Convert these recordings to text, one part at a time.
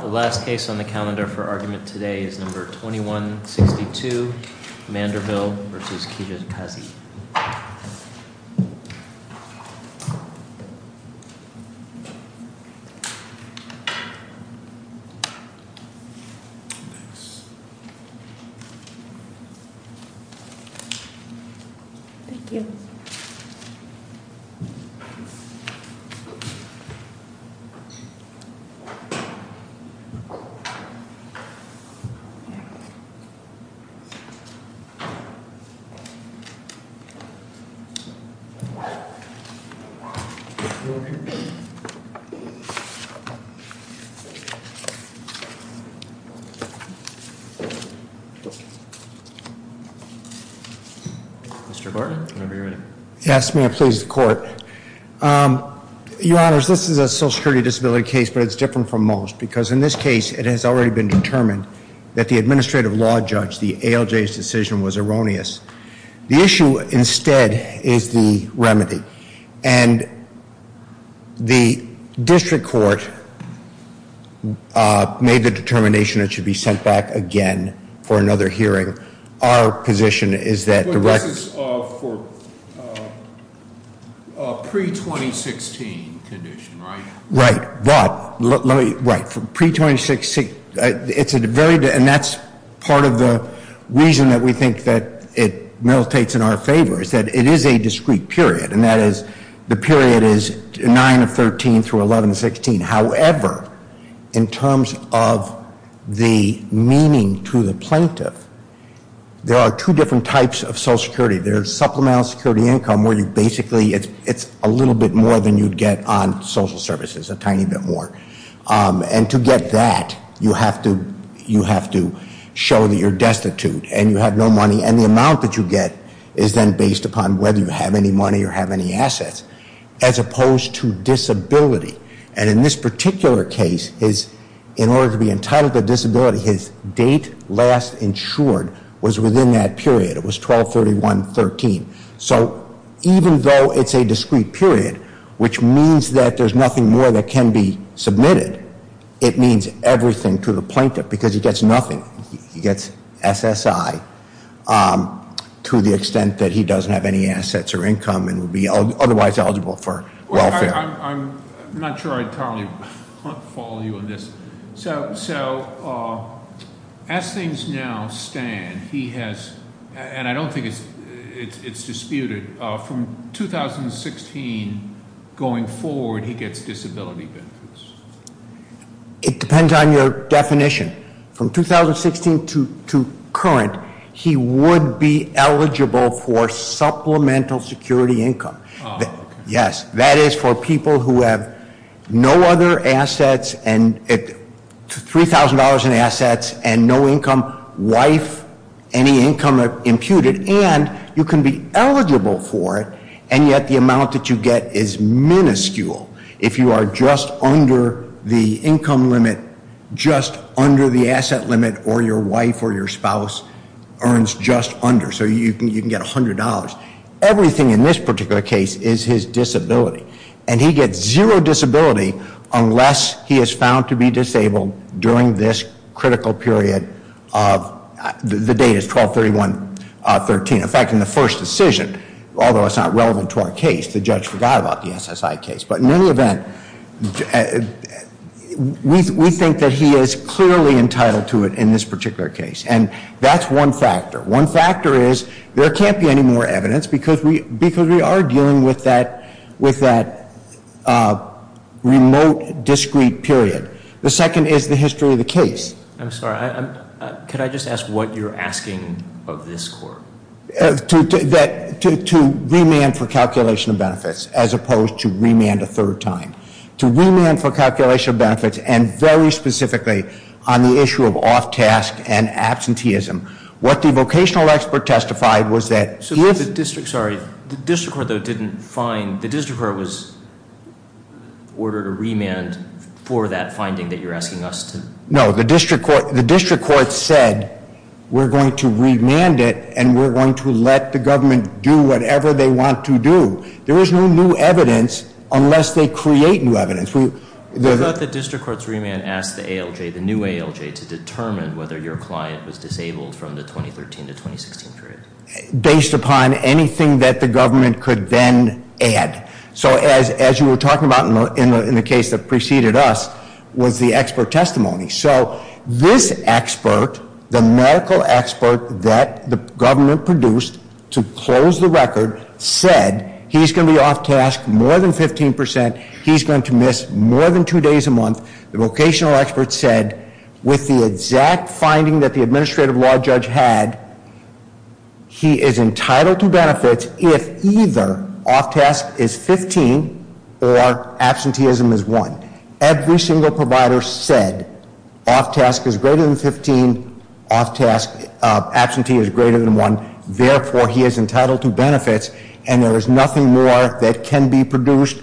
The last case on the calendar for argument today is number 2162, Manderville v. Kijakazi. Mr. Barton, whenever you're ready. Yes, may it please the court. Your honors, this is a social security disability case but it's different from most because in this case it has already been determined that the administrative law judge, the ALJ's decision was erroneous. The issue instead is the remedy and the district court made the determination it should be sent back again for another hearing. Our position is that the rec... But this is for pre-2016 condition, right? Right, but let me, right, for pre-2016, it's a very, and that's part of the reason that we think that it militates in our favor is that it is a discrete period and that is the period is 9 of 13 through 11 of 16. However, in terms of the meaning to the plaintiff, there are two different types of social security. There's supplemental security income where you basically, it's a little bit more than you'd get on social services, a tiny bit more. And to get that, you have to show that you're destitute and you have no money. And the amount that you get is then based upon whether you have any money or have any assets as opposed to disability. And in this particular case, in order to be entitled to disability, his date last insured was within that period. It was 12-31-13. So even though it's a discrete period, which means that there's nothing more that can be submitted, it means everything to the plaintiff because he gets nothing. He gets SSI to the extent that he doesn't have any assets or income and would be otherwise eligible for welfare. I'm not sure I totally follow you on this. So as things now stand, he has, and I don't think it's disputed, from 2016 going forward, he gets disability benefits. It depends on your definition. From 2016 to current, he would be eligible for supplemental security income. Yes, that is for people who have no other assets and $3,000 in assets and no income, wife, any income imputed. And you can be eligible for it, and yet the amount that you get is minuscule. If you are just under the income limit, just under the asset limit, or your wife or your spouse earns just under. So you can get $100. Everything in this particular case is his disability. And he gets zero disability unless he is found to be disabled during this critical period of, the date is 12-31-13. In fact, in the first decision, although it's not relevant to our case, the judge forgot about the SSI case. But in any event, we think that he is clearly entitled to it in this particular case. And that's one factor. One factor is there can't be any more evidence because we are dealing with that remote, discrete period. The second is the history of the case. I'm sorry, could I just ask what you're asking of this court? To remand for calculation of benefits as opposed to remand a third time. To remand for calculation of benefits, and very specifically, on the issue of off-task and absenteeism. What the vocational expert testified was that- So the district, sorry, the district court, though, didn't find, the district court was ordered a remand for that finding that you're asking us to- No, the district court said, we're going to remand it, and we're going to let the government do whatever they want to do. There is no new evidence unless they create new evidence. I thought the district court's remand asked the ALJ, the new ALJ, to determine whether your client was disabled from the 2013 to 2016 period. Based upon anything that the government could then add. So as you were talking about in the case that preceded us, was the expert testimony. So this expert, the medical expert that the government produced to close the record, said he's going to be off-task more than 15%. He's going to miss more than two days a month. The vocational expert said, with the exact finding that the administrative law judge had, he is entitled to benefits if either off-task is 15 or absenteeism is 1. Every single provider said, off-task is greater than 15, off-task, absenteeism is greater than 1. Therefore, he is entitled to benefits, and there is nothing more that can be produced.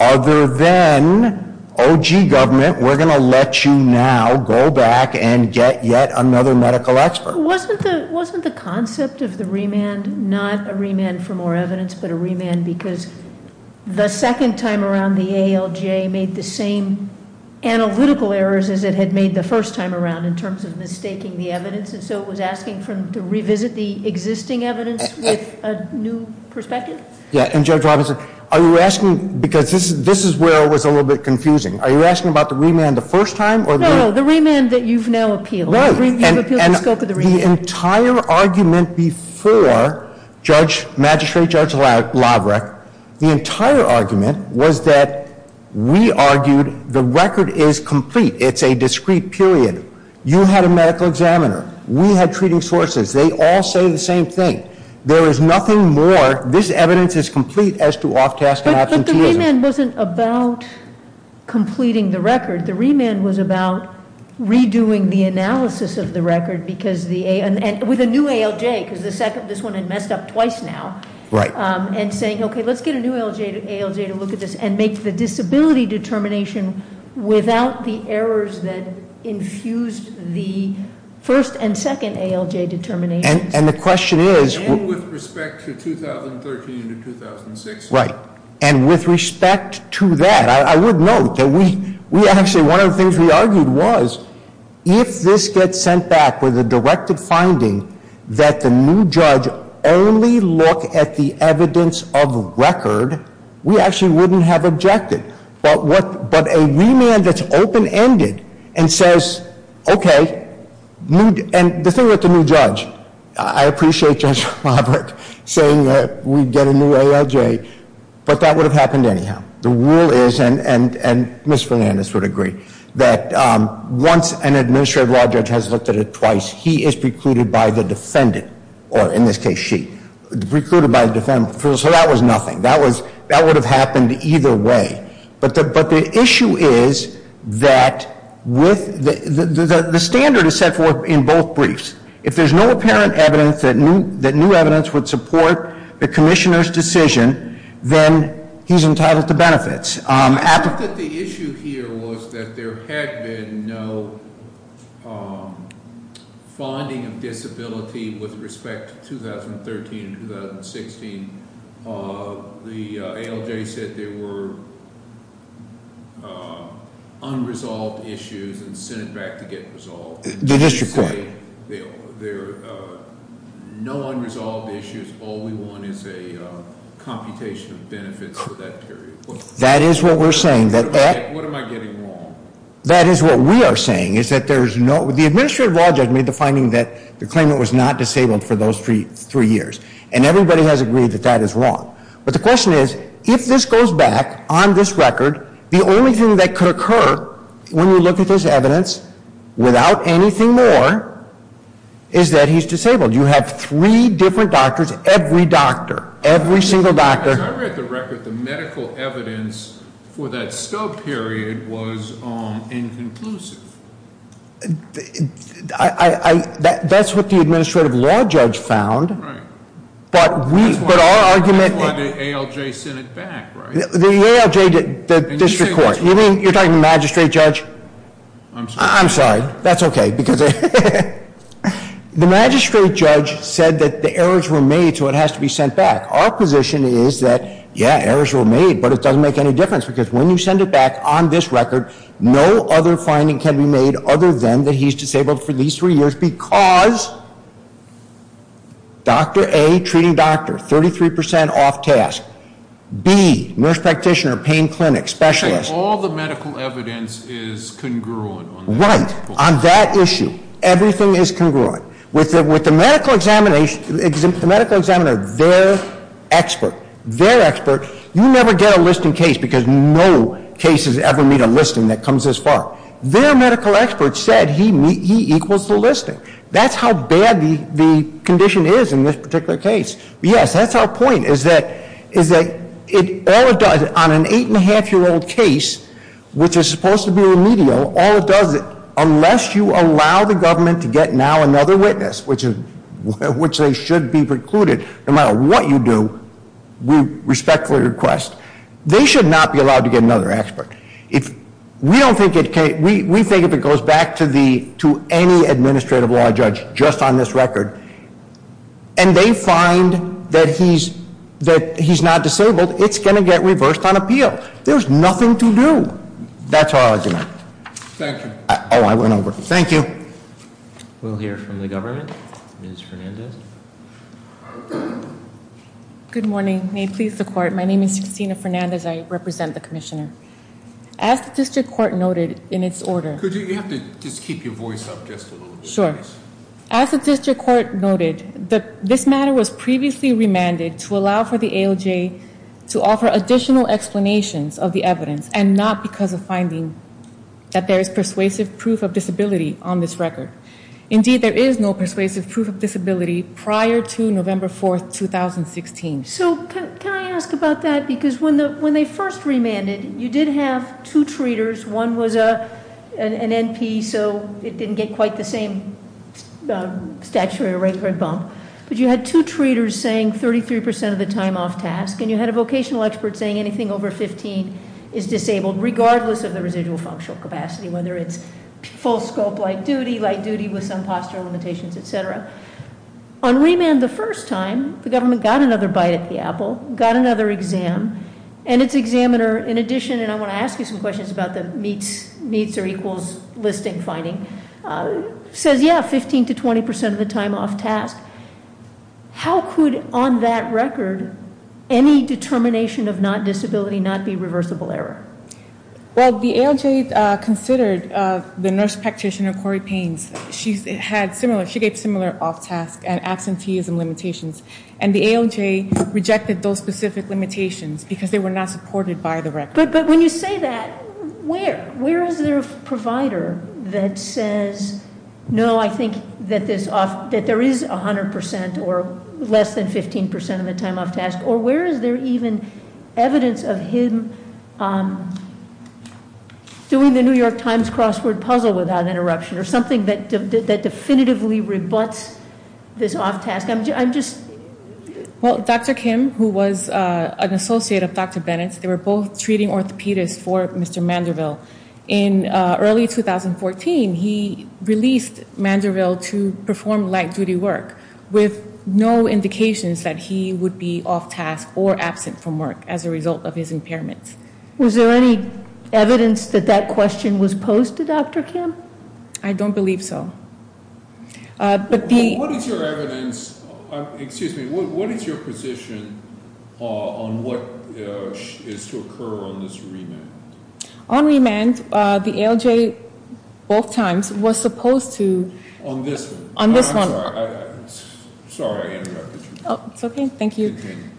Other than, OG government, we're going to let you now go back and get yet another medical expert. So wasn't the concept of the remand not a remand for more evidence, but a remand because the second time around, the ALJ made the same analytical errors as it had made the first time around in terms of mistaking the evidence. And so it was asking for them to revisit the existing evidence with a new perspective? Yeah, and Judge Robinson, are you asking, because this is where it was a little bit confusing. Are you asking about the remand the first time, or- No, no, the remand that you've now appealed. You've appealed the scope of the remand. The entire argument before Judge Magistrate, Judge Lavreck, the entire argument was that we argued the record is complete. It's a discrete period. You had a medical examiner. We had treating sources. They all say the same thing. There is nothing more, this evidence is complete as to off-task and absenteeism. But the remand wasn't about completing the record. The remand was about redoing the analysis of the record, with a new ALJ because this one had messed up twice now. And saying, okay, let's get a new ALJ to look at this and make the disability determination without the errors that infused the first and second ALJ determinations. And the question is- And with respect to 2013 to 2006. Right, and with respect to that, I would note that we actually, one of the things we argued was, if this gets sent back with a directed finding that the new judge only look at the evidence of record, we actually wouldn't have objected. But a remand that's open-ended and says, okay, and the thing with the new judge, I appreciate Judge Robert saying that we'd get a new ALJ, but that would have happened anyhow. The rule is, and Ms. Fernandez would agree, that once an administrative law judge has looked at it twice, he is precluded by the defendant, or in this case, she. Precluded by the defendant, so that was nothing. That would have happened either way. But the issue is that the standard is set forth in both briefs. If there's no apparent evidence that new evidence would support the commissioner's decision, then he's entitled to benefits. I think that the issue here was that there had been no finding of disability with respect to 2013 and 2016. The ALJ said there were unresolved issues and sent it back to get resolved. The district court. There are no unresolved issues, all we want is a computation of benefits for that period. That is what we're saying. What am I getting wrong? That is what we are saying, is that there's no, the administrative law judge made the finding that the claimant was not disabled for those three years. And everybody has agreed that that is wrong. But the question is, if this goes back on this record, the only thing that could occur when you look at this evidence without anything more is that he's disabled. You have three different doctors, every doctor, every single doctor. I read the record, the medical evidence for that scope period was inconclusive. That's what the administrative law judge found. But we, but our argument- That's why the ALJ sent it back, right? The ALJ, the district court. You mean, you're talking to the magistrate judge? I'm sorry, that's okay, because the magistrate judge said that the errors were made, so it has to be sent back. Our position is that, yeah, errors were made, but it doesn't make any difference, because when you send it back on this record, no other finding can be made other than that he's disabled for these three years, because Doctor A, treating doctor, 33% off task. B, nurse practitioner, pain clinic, specialist. All the medical evidence is congruent on that. Right, on that issue, everything is congruent. With the medical examiner, their expert, you never get a listing case, because no cases ever meet a listing that comes this far. Their medical expert said he equals the listing. That's how bad the condition is in this particular case. Yes, that's our point, is that on an eight and a half year old case, which is supposed to be remedial, all it does, unless you allow the government to get now another witness, which they should be precluded, no matter what you do, we respectfully request. They should not be allowed to get another expert. We think if it goes back to any administrative law judge just on this record, and they find that he's not disabled, it's going to get reversed on appeal. There's nothing to do. That's our argument. Thank you. I went over. Thank you. We'll hear from the government. Ms. Fernandez. Good morning. May it please the court. My name is Christina Fernandez. I represent the commissioner. As the district court noted in its order- Could you, you have to just keep your voice up just a little bit. Sure. As the district court noted, this matter was previously remanded to allow for the AOJ to offer additional explanations of the evidence, and not because of finding that there is persuasive proof of disability on this record. Indeed, there is no persuasive proof of disability prior to November 4th, 2016. So, can I ask about that? Because when they first remanded, you did have two treaters. One was an NP, so it didn't get quite the same statutory rate for a bump. But you had two treaters saying 33% of the time off task, and you had a vocational expert saying anything over 15 is disabled, regardless of the residual functional capacity, whether it's full scope light duty, light duty with some postural limitations, etc. On remand the first time, the government got another bite at the apple, got another exam. And its examiner, in addition, and I want to ask you some questions about the meets or equals listing finding. Says, yeah, 15 to 20% of the time off task. How could, on that record, any determination of not disability not be reversible error? Well, the AOJ considered the nurse practitioner, Corey Pains. She had similar, she gave similar off task and absenteeism limitations. And the AOJ rejected those specific limitations because they were not supported by the record. But when you say that, where? Where is there a provider that says, no, I think that there is 100% or less than 15% of the time off task, or where is there even evidence of him doing the New York Times crossword puzzle without interruption, or something that definitively rebuts this off task? I'm just- Well, Dr. Kim, who was an associate of Dr. Bennett's, they were both treating orthopedists for Mr. Manderville. In early 2014, he released Manderville to perform light duty work with no indications that he would be off task or absent from work as a result of his impairments. Was there any evidence that that question was posed to Dr. Kim? I don't believe so. But the- What is your evidence, excuse me, what is your position on what is to occur on this remand? On remand, the ALJ both times was supposed to- On this one. On this one. I'm sorry, I interrupted you. It's okay, thank you. Continue.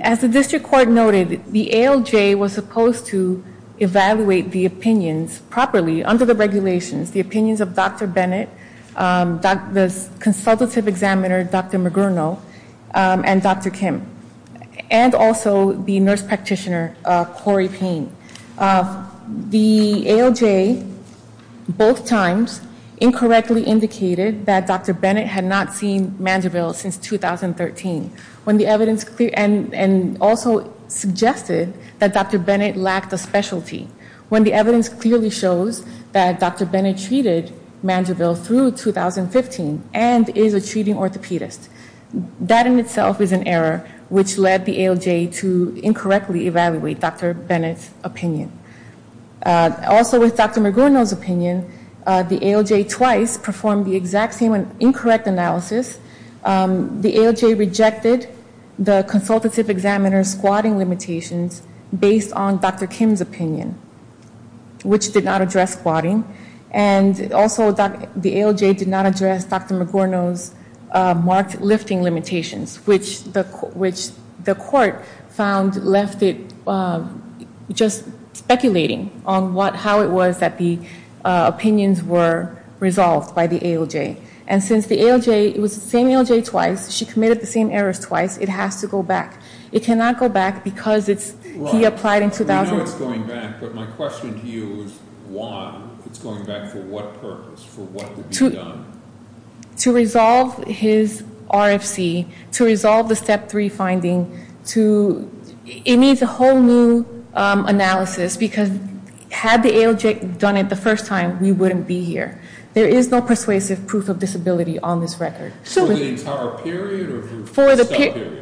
As the district court noted, the ALJ was supposed to evaluate the opinions properly under the regulations. The opinions of Dr. Bennett, the consultative examiner, Dr. Magurno, and Dr. Kim. And also the nurse practitioner, Corey Payne. The ALJ both times incorrectly indicated that Dr. Bennett had not seen Manderville since 2013. When the evidence, and also suggested that Dr. Bennett lacked a specialty. When the evidence clearly shows that Dr. Bennett treated Manderville through 2015 and is a treating orthopedist. That in itself is an error which led the ALJ to incorrectly evaluate Dr. Bennett's opinion. Also with Dr. Magurno's opinion, the ALJ twice performed the exact same incorrect analysis. The ALJ rejected the consultative examiner's squatting limitations based on Dr. Kim's opinion. Which did not address squatting. And also the ALJ did not address Dr. Magurno's marked lifting limitations. Which the court found left it just speculating on how it was that the opinions were resolved by the ALJ. And since the ALJ, it was the same ALJ twice, she committed the same errors twice, it has to go back. It cannot go back because it's, he applied in 2000. I know it's going back, but my question to you is why it's going back for what purpose? For what to be done? To resolve his RFC, to resolve the step three finding, to, it needs a whole new analysis because had the ALJ done it the first time, we wouldn't be here. There is no persuasive proof of disability on this record. So- For the entire period, or for a step period?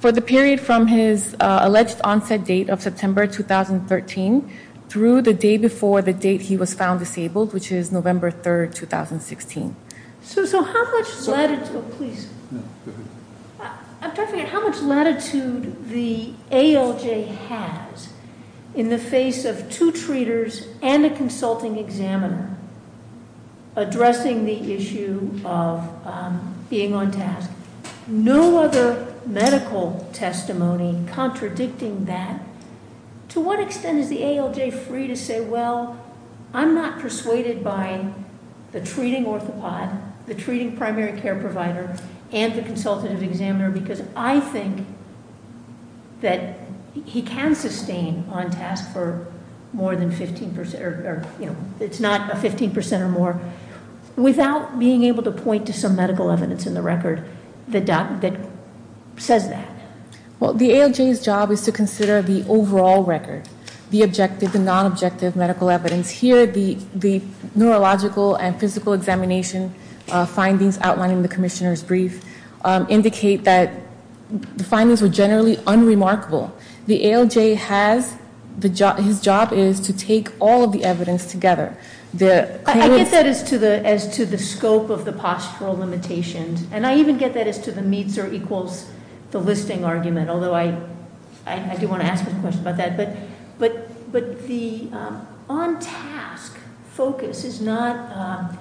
For the period from his alleged onset date of September 2013, through the day before the date he was found disabled, which is November 3rd, 2016. So how much latitude, please. I'm talking about how much latitude the ALJ has in the face of two treaters and a consulting examiner addressing the issue of being on task. No other medical testimony contradicting that. To what extent is the ALJ free to say, well, I'm not persuaded by the treating orthopod, the treating primary care provider, and the consultative examiner, because I think that he can sustain on task for more than 15%, or it's not a 15% or more. Without being able to point to some medical evidence in the record that says that. Well, the ALJ's job is to consider the overall record, the objective and non-objective medical evidence. Here, the neurological and physical examination findings outlining the commissioner's brief indicate that the findings were generally unremarkable. The ALJ has, his job is to take all of the evidence together. The- I get that as to the scope of the postural limitations. And I even get that as to the meets or equals the listing argument. Although I do want to ask a question about that. But the on task focus is not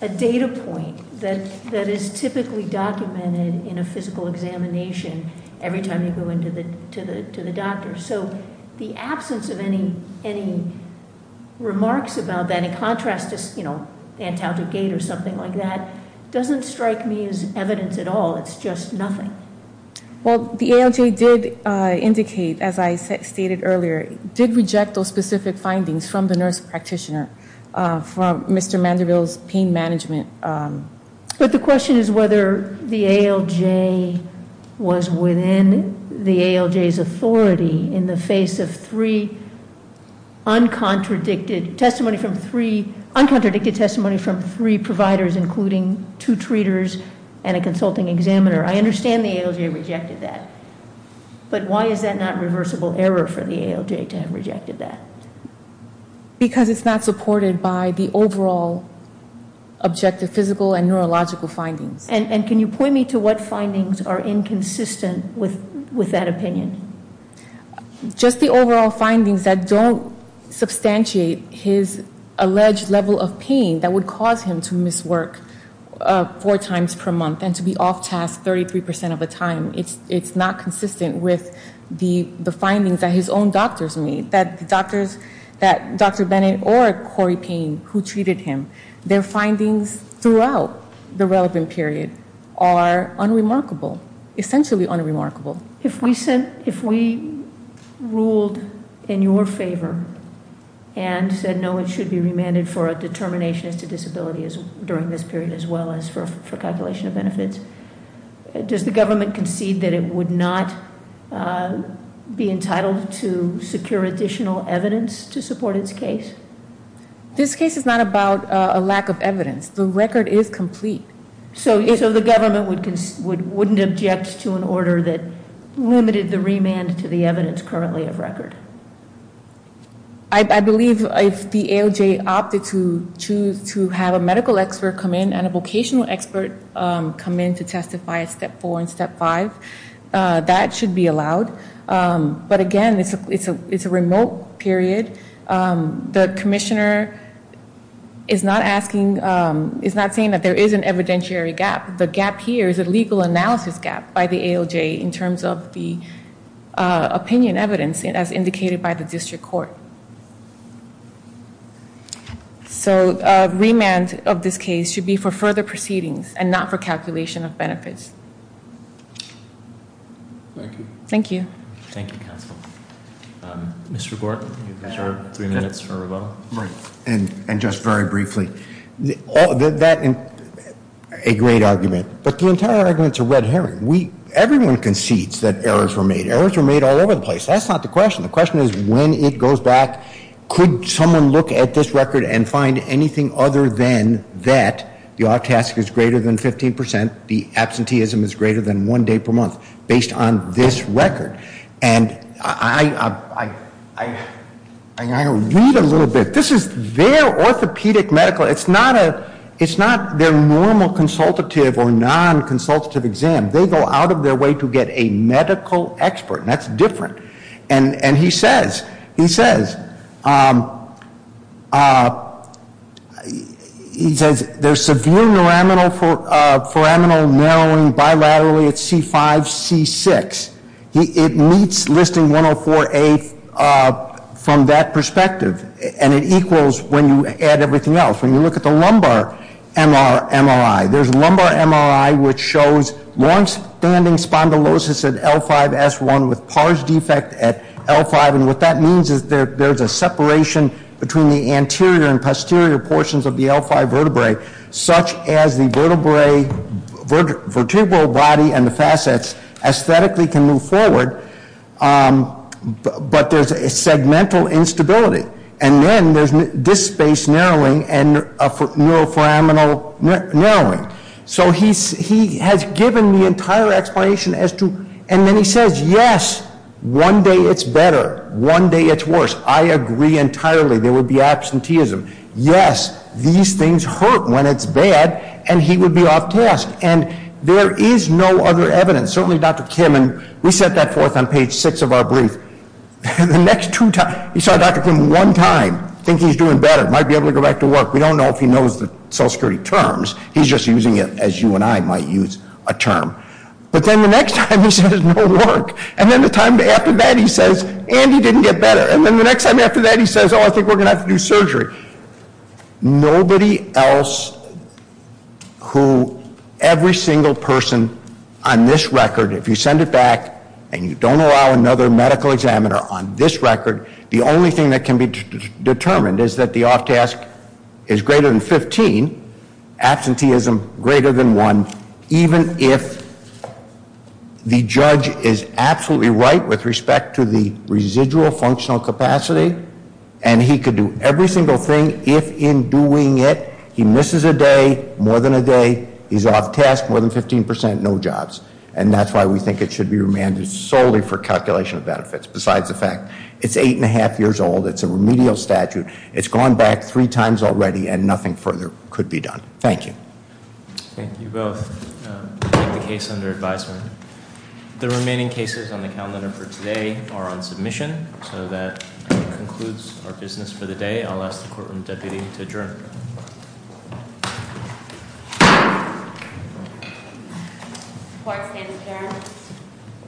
a data point that is typically documented in a physical examination every time you go in to the doctor. So the absence of any remarks about that, in contrast to Antaldrogate or something like that, doesn't strike me as evidence at all. It's just nothing. Well, the ALJ did indicate, as I stated earlier, did reject those specific findings from the nurse practitioner, from Mr. Vanderbilt's pain management. But the question is whether the ALJ was within the ALJ's authority in the face of three uncontradicted testimony from three providers, including two treaters and a consulting examiner. I understand the ALJ rejected that, but why is that not reversible error for the ALJ to have rejected that? Because it's not supported by the overall objective physical and neurological findings. And can you point me to what findings are inconsistent with that opinion? Just the overall findings that don't substantiate his alleged level of pain that would cause him to miss work four times per month and to be off task 33% of the time. It's not consistent with the findings that his own doctors made. That the doctors, that Dr. Bennett or Corey Payne who treated him, their findings throughout the relevant period are unremarkable, essentially unremarkable. If we said, if we ruled in your favor and said no, it should be remanded for a determination as to disability during this period as well as for calculation of benefits. Does the government concede that it would not be entitled to secure additional evidence to support its case? This case is not about a lack of evidence. The record is complete. So the government wouldn't object to an order that limited the remand to the evidence currently of record. I believe if the ALJ opted to choose to have a medical expert come in and a vocational expert come in to testify at step four and step five, that should be allowed. But again, it's a remote period. The commissioner is not asking, is not saying that there is an evidentiary gap. The gap here is a legal analysis gap by the ALJ in terms of the opinion evidence, as indicated by the district court. So remand of this case should be for further proceedings and not for calculation of benefits. Thank you. Thank you. Thank you, counsel. Mr. Gorton, you have three minutes for rebuttal. And just very briefly, a great argument. But the entire argument's a red herring. Everyone concedes that errors were made. Errors were made all over the place. That's not the question. The question is when it goes back, could someone look at this record and find anything other than that the off task is greater than 15%, the absenteeism is greater than one day per month based on this record. And I read a little bit. This is their orthopedic medical, it's not their normal consultative or non consultative exam. They go out of their way to get a medical expert. And that's different. And he says, he says there's severe foraminal narrowing bilaterally at C5, C6. It meets listing 104A from that perspective. And it equals when you add everything else. When you look at the lumbar MRI, there's lumbar MRI which shows long standing spondylosis at L5 S1 with pars defect at L5. And what that means is there's a separation between the anterior and posterior portions of the L5 vertebrae. Such as the vertebral body and the facets, aesthetically can move forward, but there's a segmental instability. And then there's disk space narrowing and neuroforaminal narrowing. So he has given the entire explanation as to, and then he says, yes, one day it's better, one day it's worse. I agree entirely, there will be absenteeism. Yes, these things hurt when it's bad, and he would be off task. And there is no other evidence, certainly Dr. Kim, and we set that forth on page six of our brief. The next two times, we saw Dr. Kim one time, think he's doing better, might be able to go back to work. We don't know if he knows the social security terms, he's just using it as you and I might use a term. But then the next time, he says, no work. And then the time after that, he says, and he didn't get better. And then the next time after that, he says, I think we're going to have to do surgery. Nobody else who, every single person on this record, if you send it back and you don't allow another medical examiner on this record, the only thing that can be determined is that the off task is greater than 15, absenteeism greater than one, even if the judge is absolutely right with respect to the residual functional capacity. And he could do every single thing, if in doing it, he misses a day, more than a day, he's off task, more than 15%, no jobs. And that's why we think it should be remanded solely for calculation of benefits, besides the fact. It's eight and a half years old, it's a remedial statute, it's gone back three times already, and nothing further could be done. Thank you. Thank you both, I'll take the case under advisement. The remaining cases on the calendar for today are on submission, so that concludes our business for the day. I'll ask the court room deputy to adjourn. The court stands adjourned.